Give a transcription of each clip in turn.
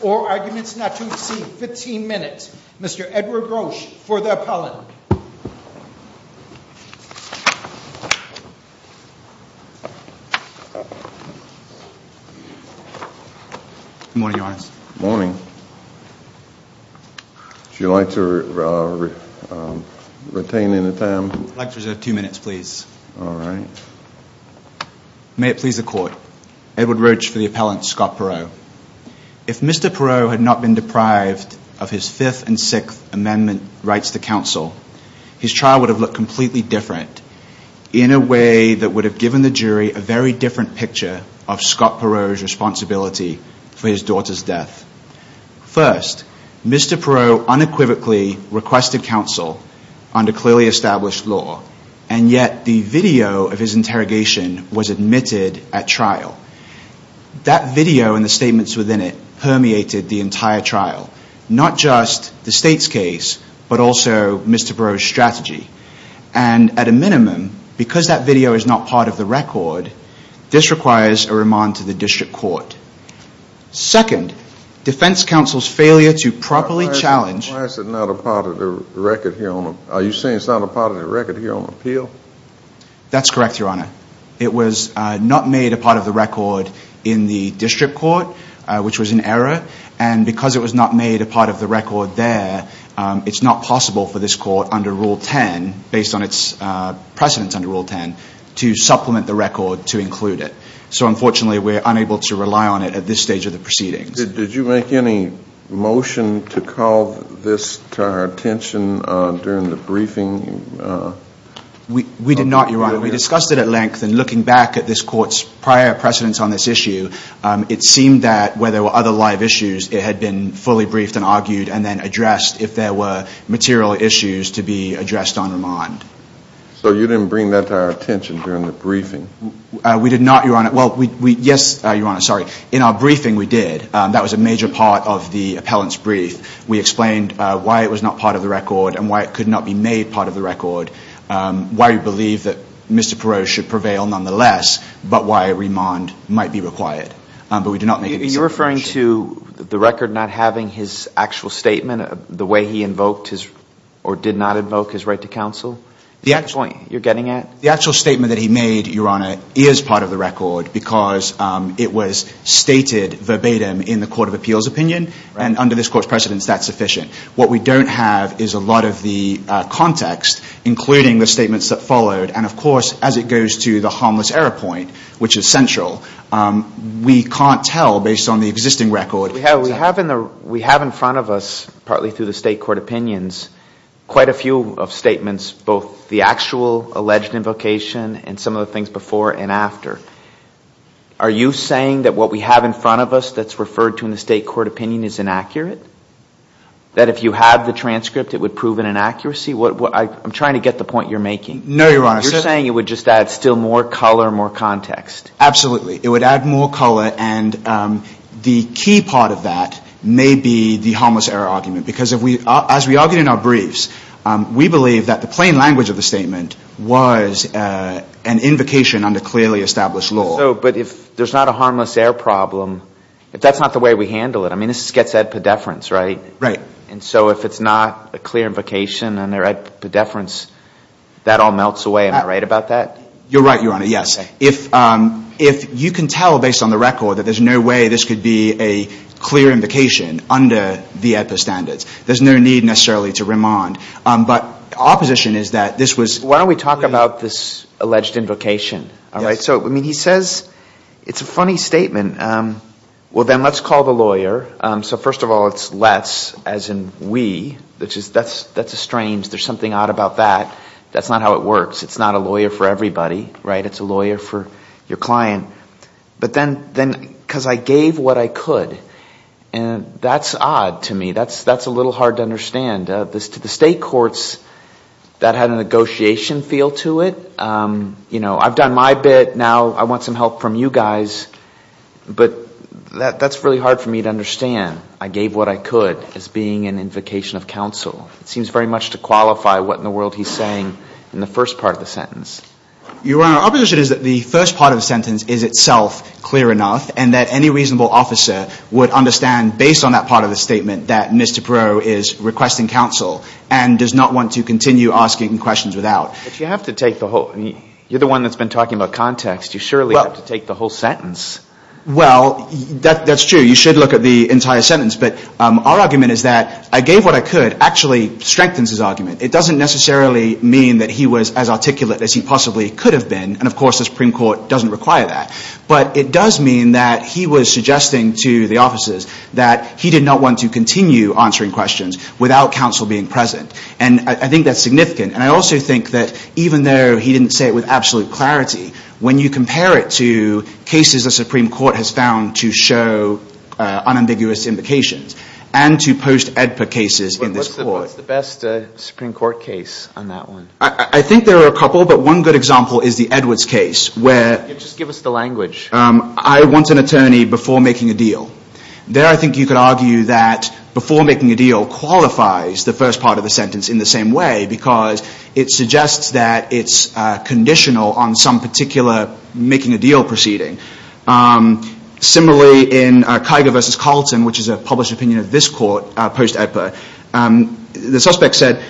or arguments not to exceed 15 minutes. Mr. Edward Grosch for the appellant. May it please the court. Edward Grosch for the appellant, Scott Perreault. If Mr. Perreault had not been deprived of his fifth and sixth amendment rights to counsel, his trial would have looked completely different in a way that would have given the jury a very different picture of Scott Perreault's responsibility for his daughter's death. First, Mr. Perreault unequivocally requested counsel under clearly established law and yet the video of his interrogation was admitted at trial. That video and the statements within it permeated the entire a minimum, because that video is not part of the record, this requires a remand to the district court. Second, defense counsel's failure to properly challenge. Why is it not a part of the record here? Are you saying it's not a part of the record here on appeal? That's correct, your honor. It was not made a part of the record in the district court, which was an error, and because it was not made a part of the record there, it's not possible for this court under Rule 10, based on its precedence under Rule 10, to supplement the record to include it. So unfortunately, we're unable to rely on it at this stage of the proceedings. Did you make any motion to call this to our attention during the briefing? We did not, your honor. We discussed it at length and looking back at this court's prior precedence on this issue, it seemed that where there were other live issues, it had been fully briefed and argued and then addressed if there were material issues to be addressed on remand. So you didn't bring that to our attention during the briefing? We did not, your honor. Well, yes, your honor, sorry. In our briefing, we did. That was a major part of the appellant's brief. We explained why it was not part of the record and why it could not be made part of the record, why we believe that Mr. Perot should prevail nonetheless, but why a remand might be required. But we did not make a decision. Are you referring to the record not having his actual statement, the way he invoked his or did not invoke his right to counsel? The actual statement that he made, your honor, is part of the record because it was stated verbatim in the Court of Appeals opinion and under this court's precedence that's sufficient. What we don't have is a lot of the context, including the statements that followed, and of course, as it goes to the harmless error point, which is the existing record. We have in front of us, partly through the state court opinions, quite a few of statements, both the actual alleged invocation and some of the things before and after. Are you saying that what we have in front of us that's referred to in the state court opinion is inaccurate? That if you had the transcript, it would prove an inaccuracy? I'm trying to get the point you're making. No, your honor. You're saying it would just add still more color, more context? Absolutely. It would add more color and the key part of that may be the harmless error argument because as we argue in our briefs, we believe that the plain language of the statement was an invocation under clearly established law. So, but if there's not a harmless error problem, if that's not the way we handle it, I mean, this gets at pedeference, right? Right. And so if it's not a clear invocation and they're at pedeference, that all melts away. Am I right about that? You're right, your honor. Yes. If you can tell based on the record that there's no way this could be a clear invocation under the EIPA standards. There's no need necessarily to remand. But opposition is that this was... Why don't we talk about this alleged invocation? All right. So, I mean, he says, it's a funny statement. Well, then let's call the lawyer. So first of all, it's let's as in we. That's a strange, there's something odd about that. That's not how it works. It's not a lawyer for everybody, right? It's a lawyer for your client. But I gave what I could. And that's odd to me. That's a little hard to understand. To the state courts, that had a negotiation feel to it. You know, I've done my bit. Now I want some help from you guys. But that's really hard for me to understand. I gave what I could as being an invocation of counsel. It seems very much to qualify what in the world he's saying in the first part of the sentence. Your honor, opposition is that the first part of the sentence is itself clear enough and that any reasonable officer would understand based on that part of the statement that Mr. Perot is requesting counsel and does not want to continue asking questions without. But you have to take the whole... You're the one that's been talking about context. You surely have to take the whole sentence. Well, that's true. You should look at the entire sentence. But our argument is that I gave what I could actually strengthens his argument. It doesn't necessarily mean that he was as articulate as he possibly could have been. And of course, the Supreme Court doesn't require that. But it does mean that he was suggesting to the officers that he did not want to continue answering questions without counsel being present. And I think that's significant. And I also think that even though he didn't say it with absolute clarity, when you compare it to cases the Supreme Court has found to show unambiguous invocations and to post-EDPA cases in this court. What's the best Supreme Court case on that one? I think there are a couple, but one good example is the Edwards case where... Just give us the language. I want an attorney before making a deal. There I think you could argue that before making a deal qualifies the first part of the sentence in the same way because it suggests that it's conditional on some particular making a deal proceeding. Similarly, in Kiger v. Carlton, which is a published opinion of this court, post-EDPA, the suspect said,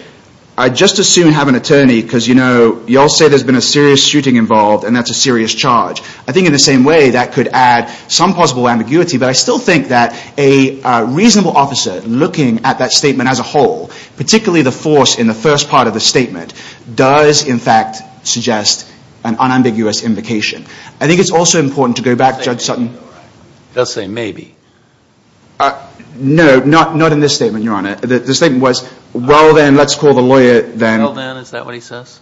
I'd just as soon have an attorney because, you know, you all say there's been a serious shooting involved and that's a serious charge. I think in the same way that could add some possible ambiguity, but I still think that a reasonable officer looking at that statement as a whole, particularly the force in the first part of the statement, does in fact suggest an unambiguous invocation. I think it's also important to go back, Judge Sutton. He does say maybe. No, not in this statement, Your Honor. The statement was, well, then, let's call the lawyer then. Well, then, is that what he says?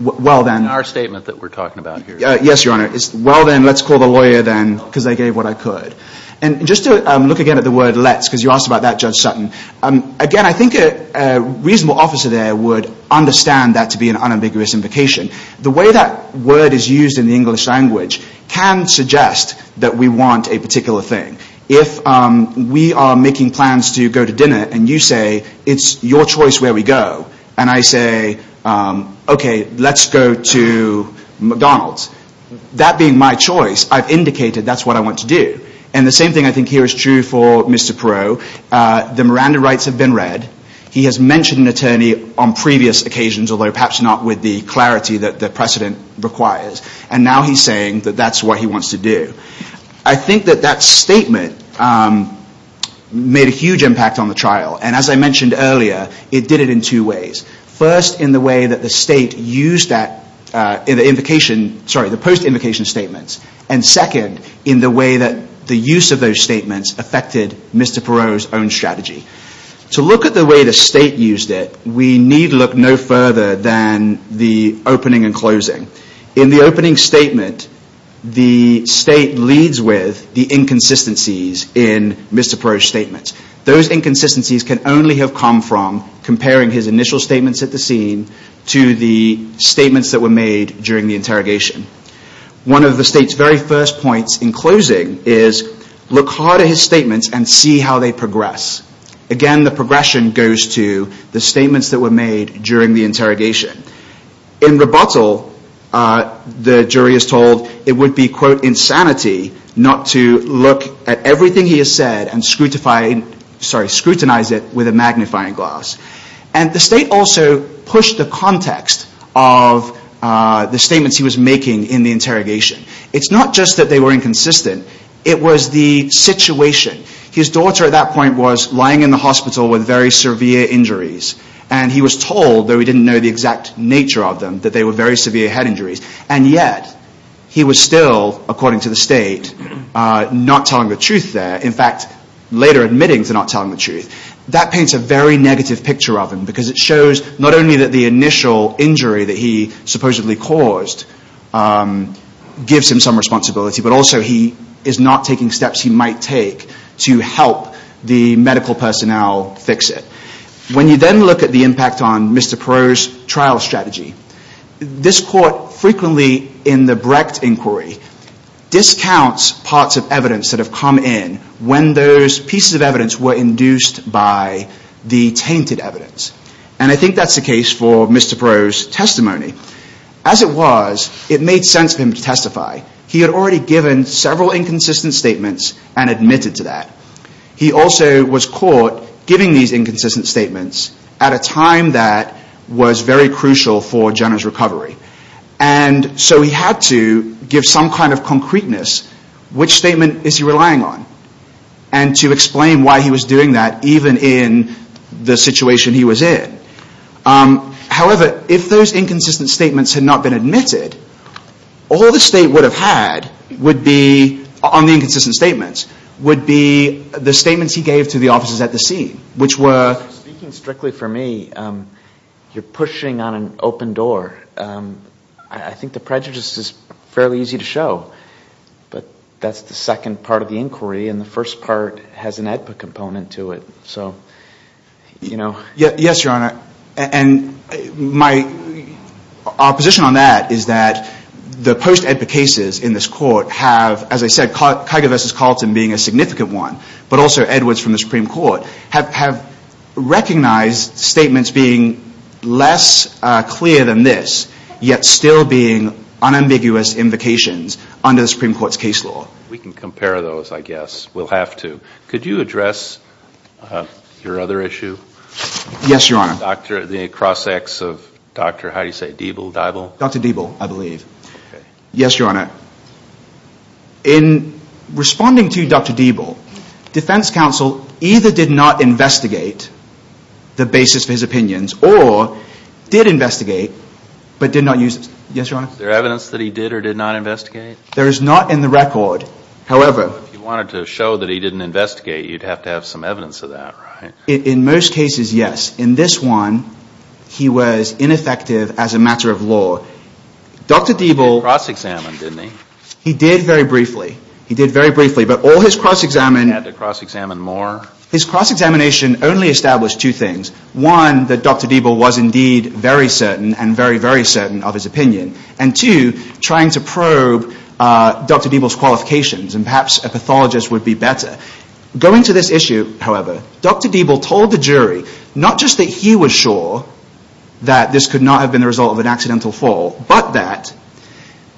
Well, then. In our statement that we're talking about here. Yes, Your Honor. It's, well, then, let's call the lawyer then because they gave what I could. And just to look again at the word let's because you asked about that, Judge Sutton. Again, I think a reasonable officer there would understand that to be an unambiguous invocation. The way that word is used in the English language can suggest that we want a particular thing. If we are making plans to go to dinner and you say, it's your choice where we go. And I say, okay, let's go to McDonald's. That being my choice, I've indicated that's what I want to do. And the same thing I think here is true for Mr. Perot. The Miranda rights have been read. He has mentioned an attorney on previous occasions, although perhaps not with the clarity that the precedent requires. And now he's saying that that's what he wants to do. I think that that statement made a huge impact on the trial. And as I mentioned earlier, it did it in two ways. First, in the way that the state used that in the invocation, sorry, the post-invocation statements. And second, in the way that the use of those statements affected Mr. Perot's own strategy. To look at the way the state used it, we need look no further than the opening and closing. In the opening statement, the state leads with the inconsistencies in Mr. Perot's statements. Those inconsistencies can only have come from comparing his initial statements at the scene to the statements that were made during the interrogation. One of the state's very first points in closing is look hard at his statements and see how they progress. Again, the progression goes to the statements that were made during the interrogation. In rebuttal, the jury is told it would be, quote, insanity not to look at everything he has said and scrutinize it with a magnifying glass. And the state also pushed the context of the statements he was making in the interrogation. It's not just that they were inconsistent. It was the situation. His daughter at that point was lying in the hospital with very severe injuries. And he was told, though he didn't know the exact nature of them, that they were very severe head injuries. And yet, he was still, according to the state, not telling the truth there. In fact, later admitting to not telling the truth. That paints a very negative picture of him because it gives him some responsibility, but also he is not taking steps he might take to help the medical personnel fix it. When you then look at the impact on Mr. Perot's trial strategy, this court frequently in the Brecht inquiry discounts parts of evidence that have come in when those pieces of evidence were induced by the tainted evidence. And I think that's the case for Mr. Perot's testimony. As it was, it made sense for him to testify. He had already given several inconsistent statements and admitted to that. He also was caught giving these inconsistent statements at a time that was very crucial for Jenner's recovery. And so he had to give some kind of concreteness. Which statement is he relying on? And to explain why he was doing that even in the situation he was in. However, if those inconsistent statements had not been admitted, all the state would have had would be, on the inconsistent statements, would be the statements he gave to the officers at the scene, which were... Speaking strictly for me, you're pushing on an open door. I think the prejudice is fairly easy to show. But that's the second part of the inquiry, and the first part has an EDPA component to it. Yes, Your Honor. And my opposition on that is that the post-EDPA cases in this court have, as I said, Kiger v. Carlton being a significant one, but also Edwards from the Supreme Court, have recognized statements being less clear than this, yet still being unambiguous invocations under the Supreme Court's case law. We can compare those, I guess. We'll have to. Could you address your other issue? Yes, Your Honor. The cross-acts of Dr. how do you say, Diebel? Dr. Diebel, I believe. Yes, Your Honor. In responding to Dr. Diebel, Defense Counsel either did not investigate the basis for his opinions, or did investigate, but did not use it. Yes, Your Honor? Is there evidence that he did or did not investigate? There is not in the record. However, If you wanted to show that he didn't investigate, you'd have to have some evidence of that, right? In most cases, yes. In this one, he was ineffective as a matter of law. Dr. Diebel Cross-examined, didn't he? He did very briefly. He did very briefly, but all his cross-examining He had to cross-examine more? His cross-examination only established two things. One, that Dr. Diebel was indeed very certain of his opinion, and two, trying to probe Dr. Diebel's qualifications, and perhaps a pathologist would be better. Going to this issue, however, Dr. Diebel told the jury not just that he was sure that this could not have been the result of an accidental fall, but that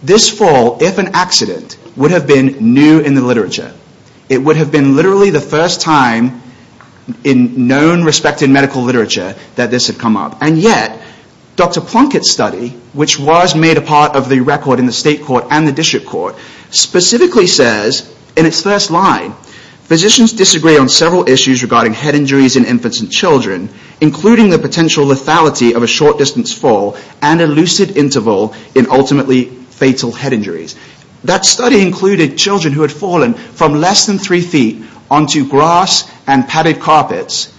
this fall, if an accident, would have been new in the literature. It would have been literally the first time in known respected medical literature that this had come up. And yet, Dr. Plunkett's study, which was made a part of the record in the state court and the district court, specifically says, in its first line, Physicians disagree on several issues regarding head injuries in infants and children, including the potential lethality of a short-distance fall and a lucid interval in ultimately fatal head injuries. That study included children who had fallen from less than three feet onto grass and padded carpets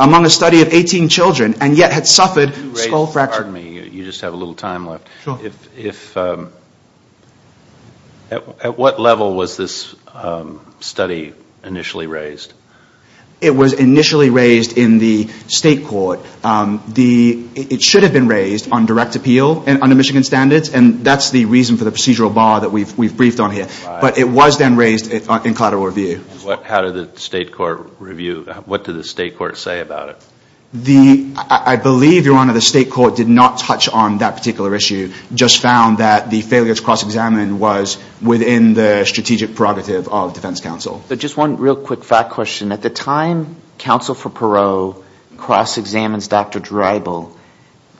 among a study of 18 children, and yet had suffered skull fractures. You just have a little time left. At what level was this study initially raised? It was initially raised in the state court. It should have been raised on direct appeal under Michigan standards, and that's the reason for the procedural bar that we've briefed on here. But it was then raised in collateral review. How did the state court review? What did the state court say about it? I believe, Your Honor, the state court did not touch on that particular issue, just found that the failures cross-examined was within the strategic prerogative of defense counsel. Just one real quick fact question. At the time Counsel for Perot cross-examines Dr. Dreibel,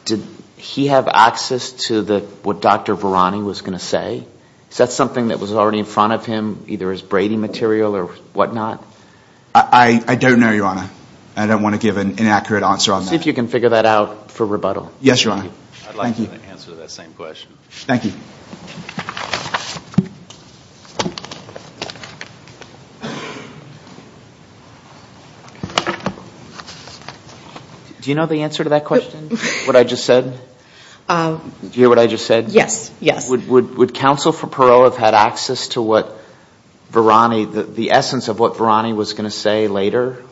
did he have access to what Dr. Varani was going to say? Is that something that was already in front of him, either as braiding material or whatnot? I don't know, Your Honor. I don't want to give an inaccurate answer on that. See if you can figure that out for rebuttal. Yes, Your Honor. Thank you. I'd like you to answer that same question. Thank you. Do you know the answer to that question, what I just said? Do you hear what I just said? Yes, yes. Would Counsel for Perot have had access to what Varani, the essence of what Varani was going to say later?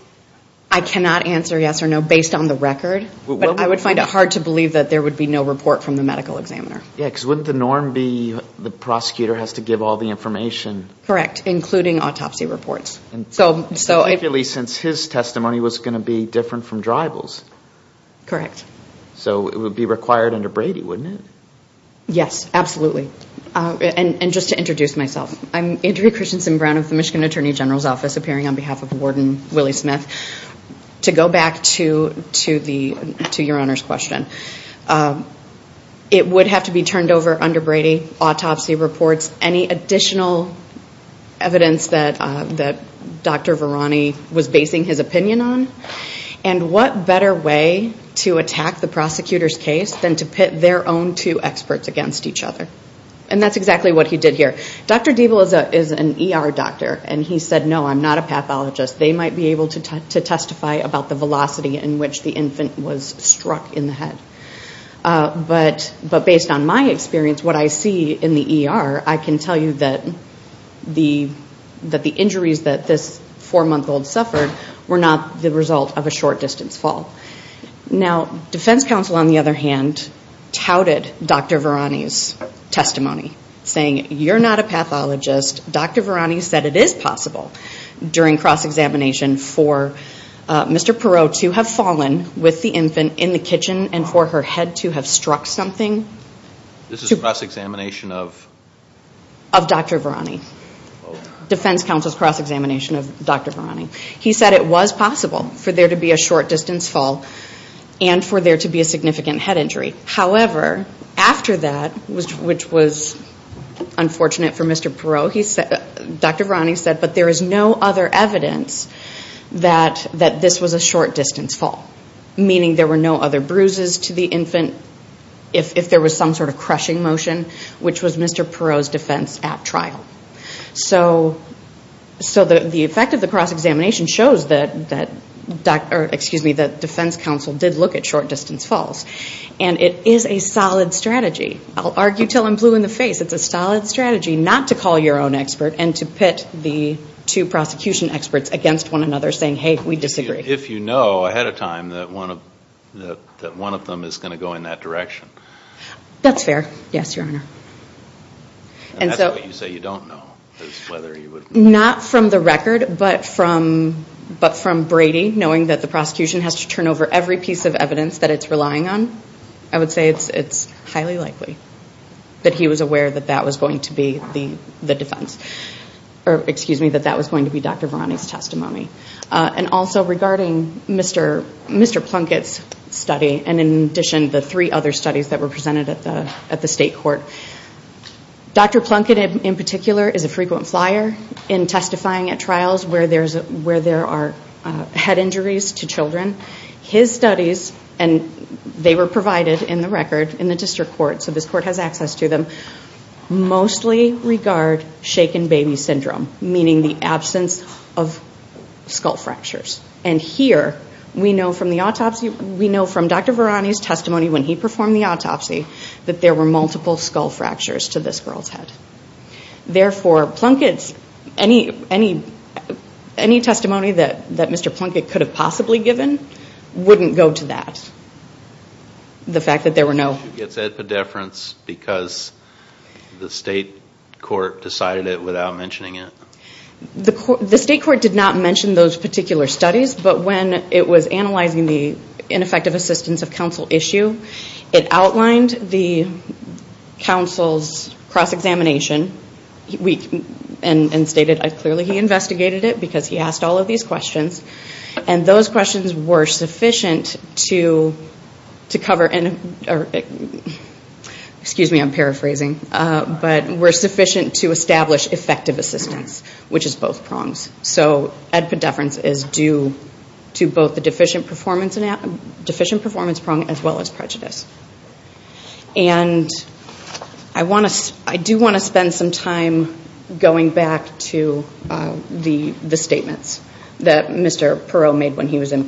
I cannot answer yes or no based on the record, but I would find it hard to believe that there would be no report from the medical examiner. Yes, because wouldn't the norm be the prosecutor has to give all the information? Correct, including autopsy reports. Particularly since his testimony was going to be different from Dreibel's. Correct. So, it would be required under Brady, wouldn't it? Yes, absolutely. And just to introduce myself, I'm Andrea Christensen Brown of the Michigan Attorney General's Office, appearing on behalf of Warden Willie Smith. To go back to Your Honor's question, it would have to be turned over under Brady, autopsy reports, any additional evidence that Dr. Varani was basing his opinion on? And what better way to attack the prosecutor's case than to pit their own two experts against each other? And that's exactly what he did here. Dr. Dreibel is an ER doctor, and he said, no, I'm not a pathologist. They might be able to testify about the velocity in which the infant was struck in the head. But based on my experience, what I see in the ER, I can tell you that the injuries that this four-month-old suffered were not the result of a short-distance fall. Now, defense counsel, on the other hand, touted Dr. Varani's testimony, saying, you're not a pathologist. Dr. Varani said it is possible during cross-examination for Mr. Perot to have fallen with the infant in the kitchen and for her head to have struck something. This is a cross-examination of? Of Dr. Varani. Defense counsel's cross-examination of Dr. Varani. He said it was possible for there to be a short-distance fall and for there to be a significant head injury. However, after that, which was unfortunate for Mr. Perot, Dr. Varani said, but there is no other evidence that this was a short-distance fall, meaning there were no other bruises to the infant if there was some sort of crushing motion, which was Mr. Perot's defense at trial. So the effect of the cross-examination shows that defense counsel did look at short-distance falls. And it is a solid strategy. I'll argue until I'm blue in the face. It's a solid strategy not to call your own expert and to pit the two prosecution experts against one another, saying, hey, we disagree. If you know ahead of time that one of them is going to go in that direction. That's fair. Yes, Your Honor. And that's what you say you don't know. Not from the record, but from Brady knowing that the prosecution has to turn over every piece of evidence that it's relying on. I would say it's highly likely that he was aware that that was going to be the defense. Or excuse me, that that was going to be Dr. Varani's testimony. And also regarding Mr. Plunkett's study, and in addition, the three other studies that were presented at the state court, Dr. Plunkett, in particular, is a frequent flyer in testifying at trials where there are head injuries to children. His studies, and they were provided in the record in the district court, so this court has access to them, mostly regard shaken baby syndrome, meaning the absence of skull fractures. And here, we know from the autopsy, we know from Dr. Varani's testimony when he performed the autopsy that there were multiple skull fractures to this girl's head. Therefore, Plunkett's, any testimony that Mr. Plunkett could have possibly given wouldn't go to that. The fact that there were no... She gets epidepherence because the state court decided it without mentioning it. The state court did not mention those particular studies, but when it was analyzing the ineffective assistance of counsel issue, it outlined the counsel's cross-examination, and stated clearly he investigated it because he asked all of these questions, and those questions were to cover... Excuse me, I'm paraphrasing, but were sufficient to establish effective assistance, which is both prongs. So epidepherence is due to both the deficient performance prong, as well as prejudice. And I do want to spend some time going back to the statements that Mr. Perot made when he was in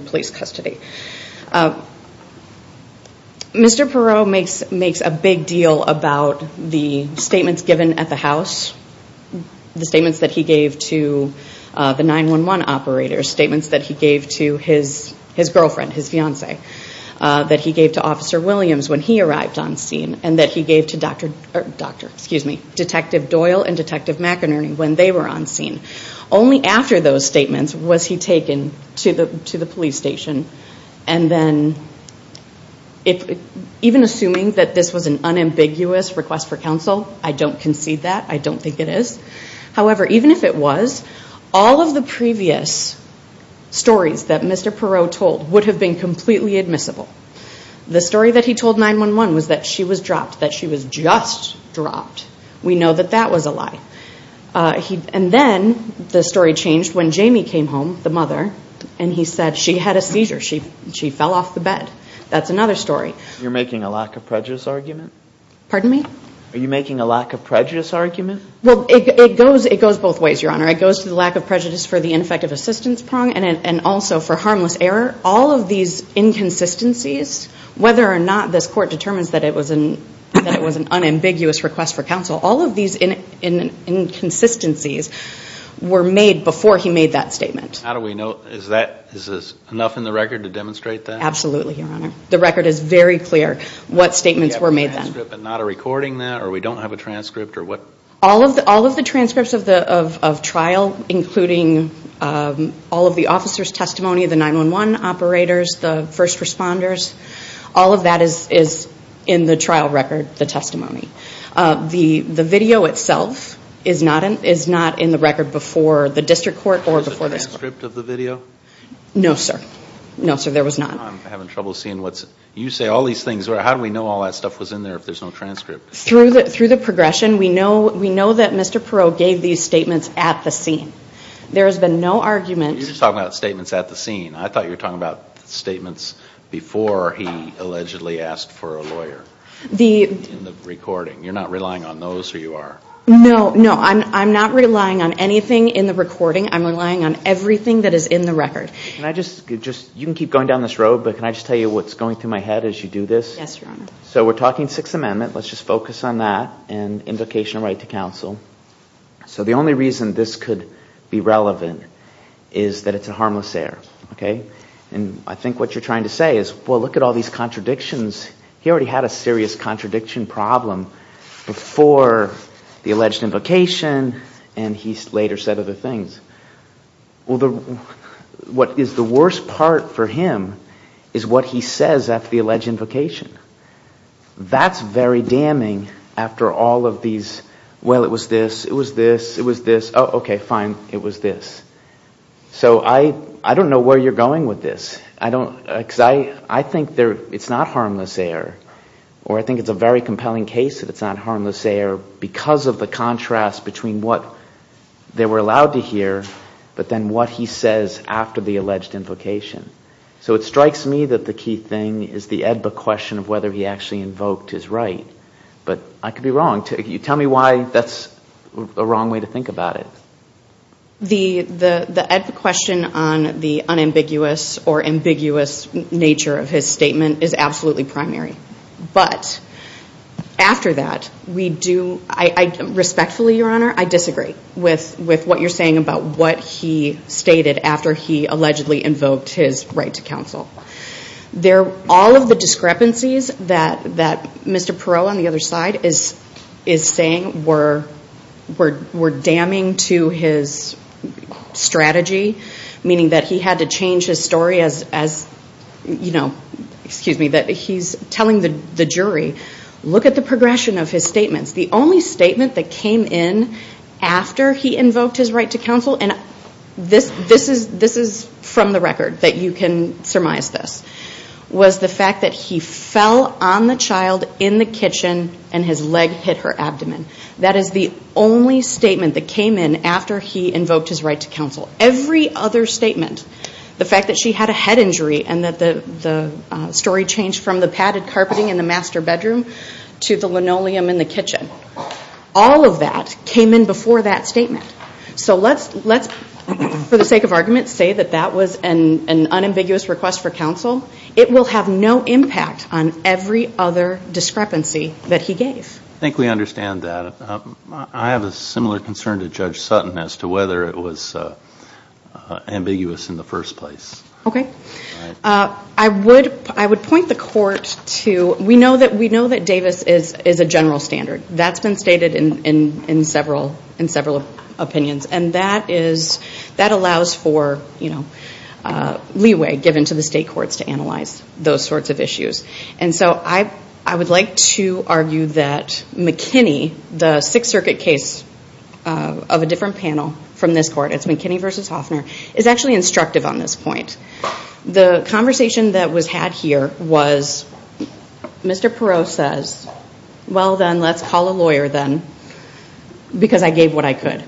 police custody. Mr. Perot makes a big deal about the statements given at the house, the statements that he gave to the 911 operators, statements that he gave to his girlfriend, his fiancee, that he gave to Officer Williams when he arrived on scene, and that he gave to Dr., excuse me, Detective Doyle and Detective McInerney when they were on scene. Only after those statements was he taken to the police station, and then even assuming that this was an unambiguous request for counsel, I don't concede that, I don't think it is. However, even if it was, all of the previous stories that Mr. Perot told would have been completely admissible. The story that he told 911 was that she was dropped, that she was just dropped. We know that that was a lie. And then the story changed when Jamie came home, the mother, and he said she had a seizure. She fell off the bed. That's another story. You're making a lack of prejudice argument? Pardon me? Are you making a lack of prejudice argument? Well, it goes both ways, Your Honor. It goes to the lack of prejudice for the ineffective assistance prong and also for harmless error. All of these inconsistencies, whether or not this court determines that it was an unambiguous request for counsel, all of these inconsistencies were made before he made that statement. How do we know? Is that, is this enough in the record to demonstrate that? Absolutely, Your Honor. The record is very clear what statements were made then. Do we have a transcript and not a recording then, or we don't have a transcript, or what? All of the transcripts of trial, including all of the officers' testimony, the 911 operators, the first responders, all of that is in the trial record, the testimony. The video itself is not in the record before the district court or before this court. Was there a transcript of the video? No, sir. No, sir, there was not. I'm having trouble seeing what's... You say all these things. How do we know all that stuff was in there if there's no transcript? Through the progression, we know that Mr. Perot gave these statements at the scene. There has been no argument. You're just talking about statements at the scene. I thought you were talking about statements before he allegedly asked for a lawyer in the recording. You're not relying on those, or you are? No, no. I'm not relying on anything in the recording. I'm relying on everything that is in the record. Can I just, you can keep going down this road, but can I just tell you what's going through my head as you do this? Yes, Your Honor. So we're talking Sixth Amendment. Let's just focus on that and invocation of right to counsel. So the only reason this could be relevant is that it's a harmless error, okay? And I think what you're trying to say is, well, look at all these contradictions. He already had a serious contradiction problem before the alleged invocation, and he later said other things. What is the worst part for him is what he says after the alleged invocation. That's very damning after all of these, well, it was this, it was this, it was this, oh, okay, fine, it was this. So I don't know where you're going with this. I think it's not harmless error, or I think it's a very compelling case that it's not harmless error because of the contrast between what they were allowed to hear, but then what he says after the alleged invocation. So it strikes me that the key thing is the AEDPA question of whether he actually invoked his right. But I could be wrong. Tell me why that's a wrong way to think about it. The AEDPA question on the unambiguous or ambiguous nature of his statement is absolutely primary. But after that, we do, respectfully, Your Honor, I disagree with what you're saying about what he stated after he allegedly invoked his right to counsel. They're all of the discrepancies that Mr. Perot on the other side is saying were damning to his strategy, meaning that he had to change his story as, you know, excuse me, that he's telling the jury, look at the progression of his statements. The only statement that came in after he invoked his right to counsel, and this is from the record that you can surmise this, was the fact that he fell on the child in the kitchen and his leg hit her abdomen. That is the only statement that came in after he invoked his right to counsel. Every other statement, the fact that she had a head injury and that the story changed from the padded carpeting in the master bedroom to the linoleum in the kitchen, all of that came in before that statement. So let's, for the sake of argument, say that that was an unambiguous request for counsel. It will have no impact on every other discrepancy that he gave. I think we understand that. I have a similar concern to Judge Sutton as to whether it was ambiguous in the first place. Okay. I would point the court to, we know that Davis is a general standard. That's been stated in several opinions. And that allows for leeway given to the state courts to analyze those sorts of issues. And so I would like to argue that McKinney, the Sixth Circuit case of a different panel from this court, it's McKinney v. Hoffner, is actually instructive on this point. The conversation that was had here was Mr. Perot says, well then, let's call a lawyer then, because I gave what I could.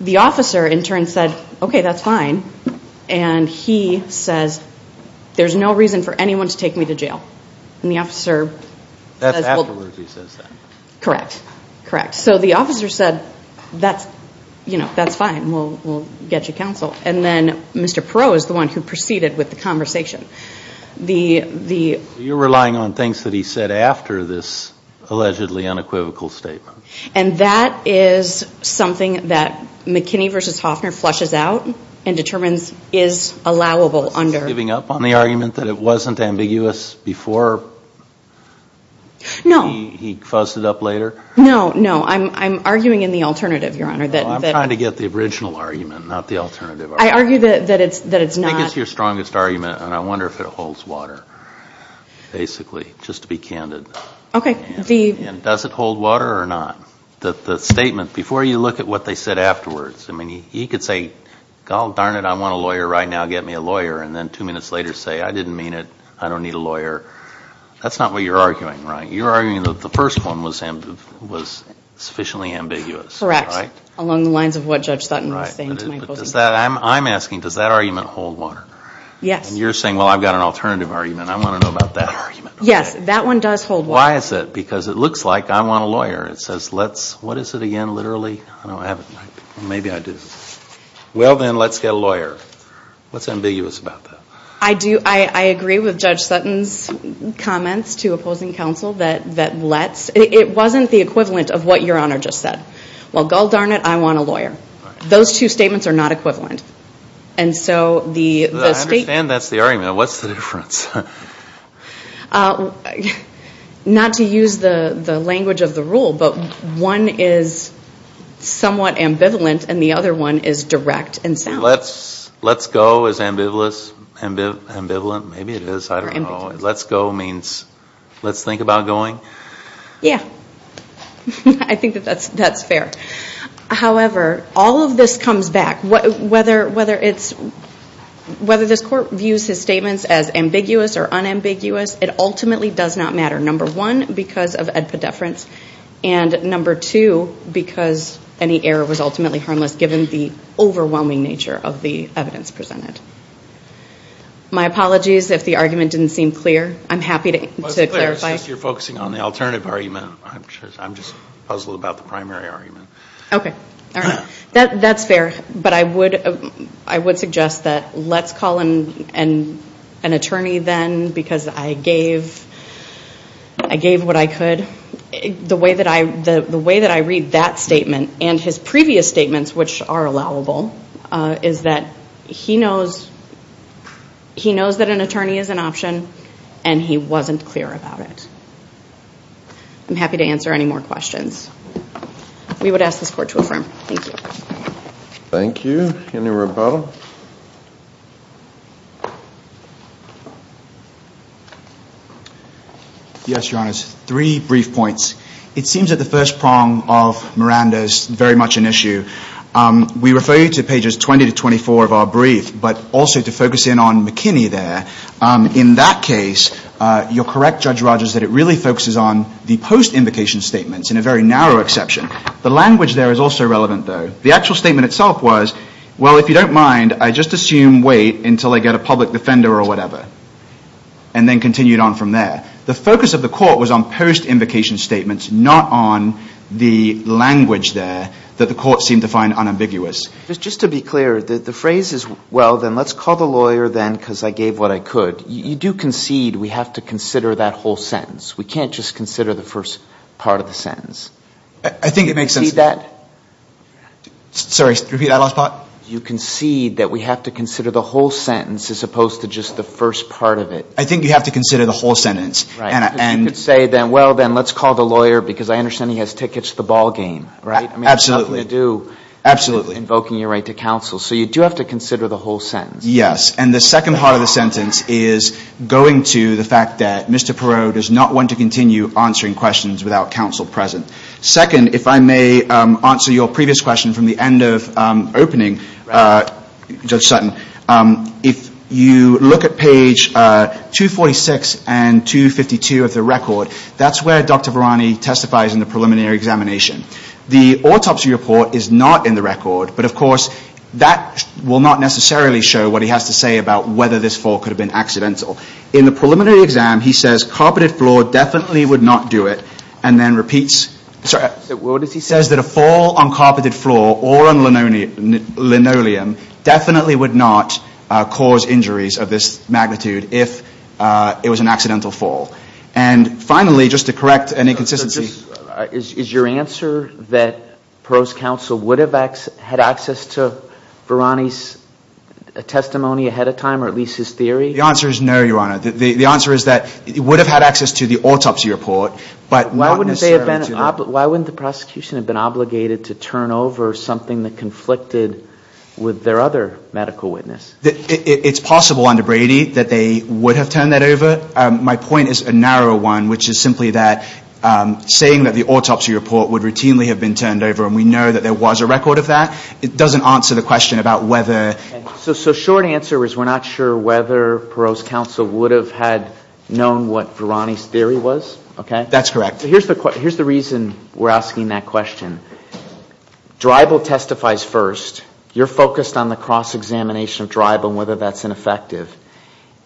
The officer in turn said, okay, that's fine. And he says, there's no reason for anyone to take me to jail. And the officer says, well. That's absolutely what he says then. Correct. Correct. So the officer said, that's fine. We'll get you counsel. And then Mr. Perot is the one who proceeded with the conversation. You're relying on things that he said after this allegedly unequivocal statement. And that is something that McKinney v. Hoffner flushes out and determines is allowable under. Was he giving up on the argument that it wasn't ambiguous before? No. He fuzzed it up later? No, no. I'm arguing in the alternative, Your Honor. I'm trying to get the original argument, not the alternative argument. I argue that it's not. I think it's your strongest argument, and I wonder if it holds water, basically, just to be candid. Okay. And does it hold water or not? The statement, before you look at what they said afterwards, I mean, he could say, darn it, I want a lawyer right now, get me a lawyer. And then two minutes later say, I didn't mean it, I don't need a lawyer. That's not what you're arguing, right? You're arguing that the first one was sufficiently ambiguous, right? Correct, along the lines of what Judge Sutton was saying to my opposing counsel. I'm asking, does that argument hold water? Yes. And you're saying, well, I've got an alternative argument. I want to know about that argument. Yes. That one does hold water. Why is that? Because it looks like I want a lawyer. It says let's, what is it again, literally? I don't have it. Maybe I do. Well, then, let's get a lawyer. What's ambiguous about that? I agree with Judge Sutton's comments to opposing counsel that let's, it wasn't the equivalent of what Your Honor just said. Well, gall darn it, I want a lawyer. Those two statements are not equivalent. I understand that's the argument. What's the difference? Not to use the language of the rule, but one is somewhat ambivalent and the other one is direct and sound. Let's go is ambivalent? Maybe it is. I don't know. Let's go means let's think about going? Yeah. I think that that's fair. However, all of this comes back. Whether this court views his statements as ambiguous or unambiguous, it ultimately does not matter, number one, because of epidefference, and number two, because any error was ultimately harmless, given the overwhelming nature of the evidence presented. My apologies if the argument didn't seem clear. I'm happy to clarify. Well, it's clear. It's just you're focusing on the alternative argument. I'm just puzzled about the primary argument. Okay. All right. That's fair, but I would suggest that let's call an attorney then, because I gave what I could. The way that I read that statement and his previous statements, which are allowable, is that he knows that an attorney is an option and he wasn't clear about it. I'm happy to answer any more questions. We would ask this court to affirm. Thank you. Thank you. Any rebuttal? Yes, Your Honors. Three brief points. It seems that the first prong of Miranda is very much an issue. We refer you to pages 20 to 24 of our brief, but also to focus in on McKinney there. In that case, you're correct, Judge Rogers, that it really focuses on the post-invocation statements, in a very narrow exception. The language there is also relevant, though. The actual statement itself was, well, if you don't mind, I just assume wait until I get a public defender or whatever, and then continue on from there. The focus of the court was on post-invocation statements, not on the language there that the court seemed to find unambiguous. Just to be clear, the phrase is, well, then let's call the lawyer then, because I gave what I could. You do concede we have to consider that whole sentence. We can't just consider the first part of the sentence. I think it makes sense. You concede that? Sorry, repeat that last part? You concede that we have to consider the whole sentence as opposed to just the first part of it. I think you have to consider the whole sentence. You could say, well, then, let's call the lawyer, because I understand he has tickets to the ball game. Absolutely. I mean, there's nothing to do with invoking your right to counsel. So you do have to consider the whole sentence. Yes, and the second part of the sentence is going to the fact that Mr. Perot does not want to continue answering questions without counsel present. Second, if I may answer your previous question from the end of opening, Judge Sutton, if you look at page 246 and 252 of the record, that's where Dr. Varani testifies in the preliminary examination. The autopsy report is not in the record, but of course that will not necessarily show what he has to say about whether this fall could have been accidental. In the preliminary exam, he says carpeted floor definitely would not do it and then repeats. What does he say? He says that a fall on carpeted floor or on linoleum definitely would not cause injuries of this magnitude if it was an accidental fall. And finally, just to correct any inconsistency. Is your answer that Perot's counsel would have had access to Varani's testimony ahead of time or at least his theory? The answer is no, Your Honor. The answer is that he would have had access to the autopsy report, but not necessarily to the... Why wouldn't the prosecution have been obligated to turn over something that conflicted with their other medical witness? It's possible under Brady that they would have turned that over. My point is a narrower one, which is simply that saying that the autopsy report would routinely have been turned over and we know that there was a record of that, it doesn't answer the question about whether... So short answer is we're not sure whether Perot's counsel would have had known what Varani's theory was, okay? That's correct. Here's the reason we're asking that question. Dribble testifies first. You're focused on the cross-examination of Dribble and whether that's ineffective.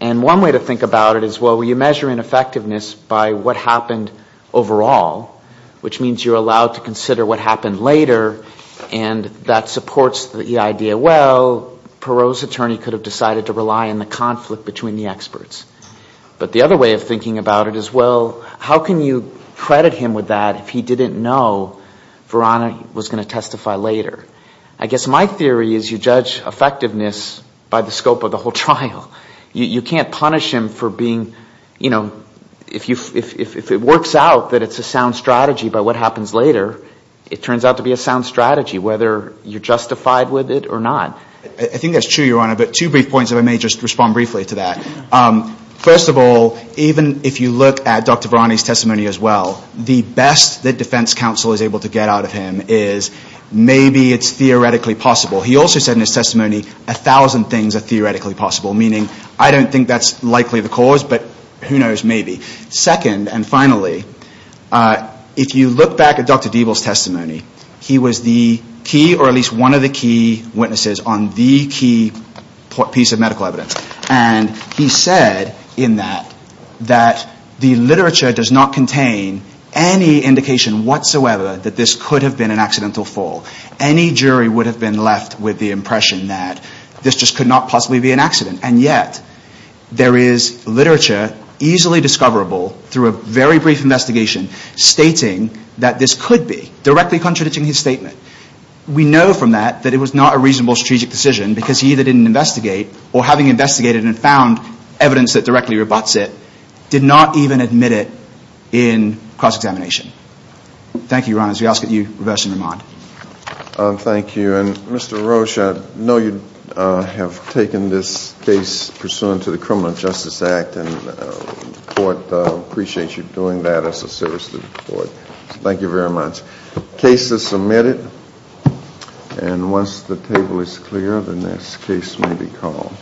And one way to think about it is, well, you measure ineffectiveness by what happened overall, which means you're allowed to consider what happened later, and that supports the idea, well, Perot's attorney could have decided to rely on the conflict between the experts. But the other way of thinking about it is, well, how can you credit him with that if he didn't know Varani was going to testify later? I guess my theory is you judge effectiveness by the scope of the whole trial. You can't punish him for being, you know, if it works out that it's a sound strategy by what happens later, it turns out to be a sound strategy, whether you're justified with it or not. I think that's true, Your Honor, but two brief points, and I may just respond briefly to that. First of all, even if you look at Dr. Varani's testimony as well, the best that defense counsel is able to get out of him is maybe it's theoretically possible. He also said in his testimony a thousand things are theoretically possible, meaning I don't think that's likely the cause, but who knows, maybe. Second, and finally, if you look back at Dr. Dribble's testimony, he was the key or at least one of the key witnesses on the key piece of medical evidence, and he said in that that the literature does not contain any indication whatsoever that this could have been an accidental fall. Any jury would have been left with the impression that this just could not possibly be an accident, and yet there is literature easily discoverable through a very brief investigation stating that this could be, directly contradicting his statement. We know from that that it was not a reasonable strategic decision because he either didn't investigate or, having investigated and found evidence that directly rebutts it, did not even admit it in cross-examination. Thank you, Your Honor. As we ask that you reverse and remand. Thank you. And Mr. Roche, I know you have taken this case pursuant to the Criminal Justice Act, and the Court appreciates you doing that as a service to the Court. Thank you very much. The case is submitted, and once the table is clear, the next case may be called.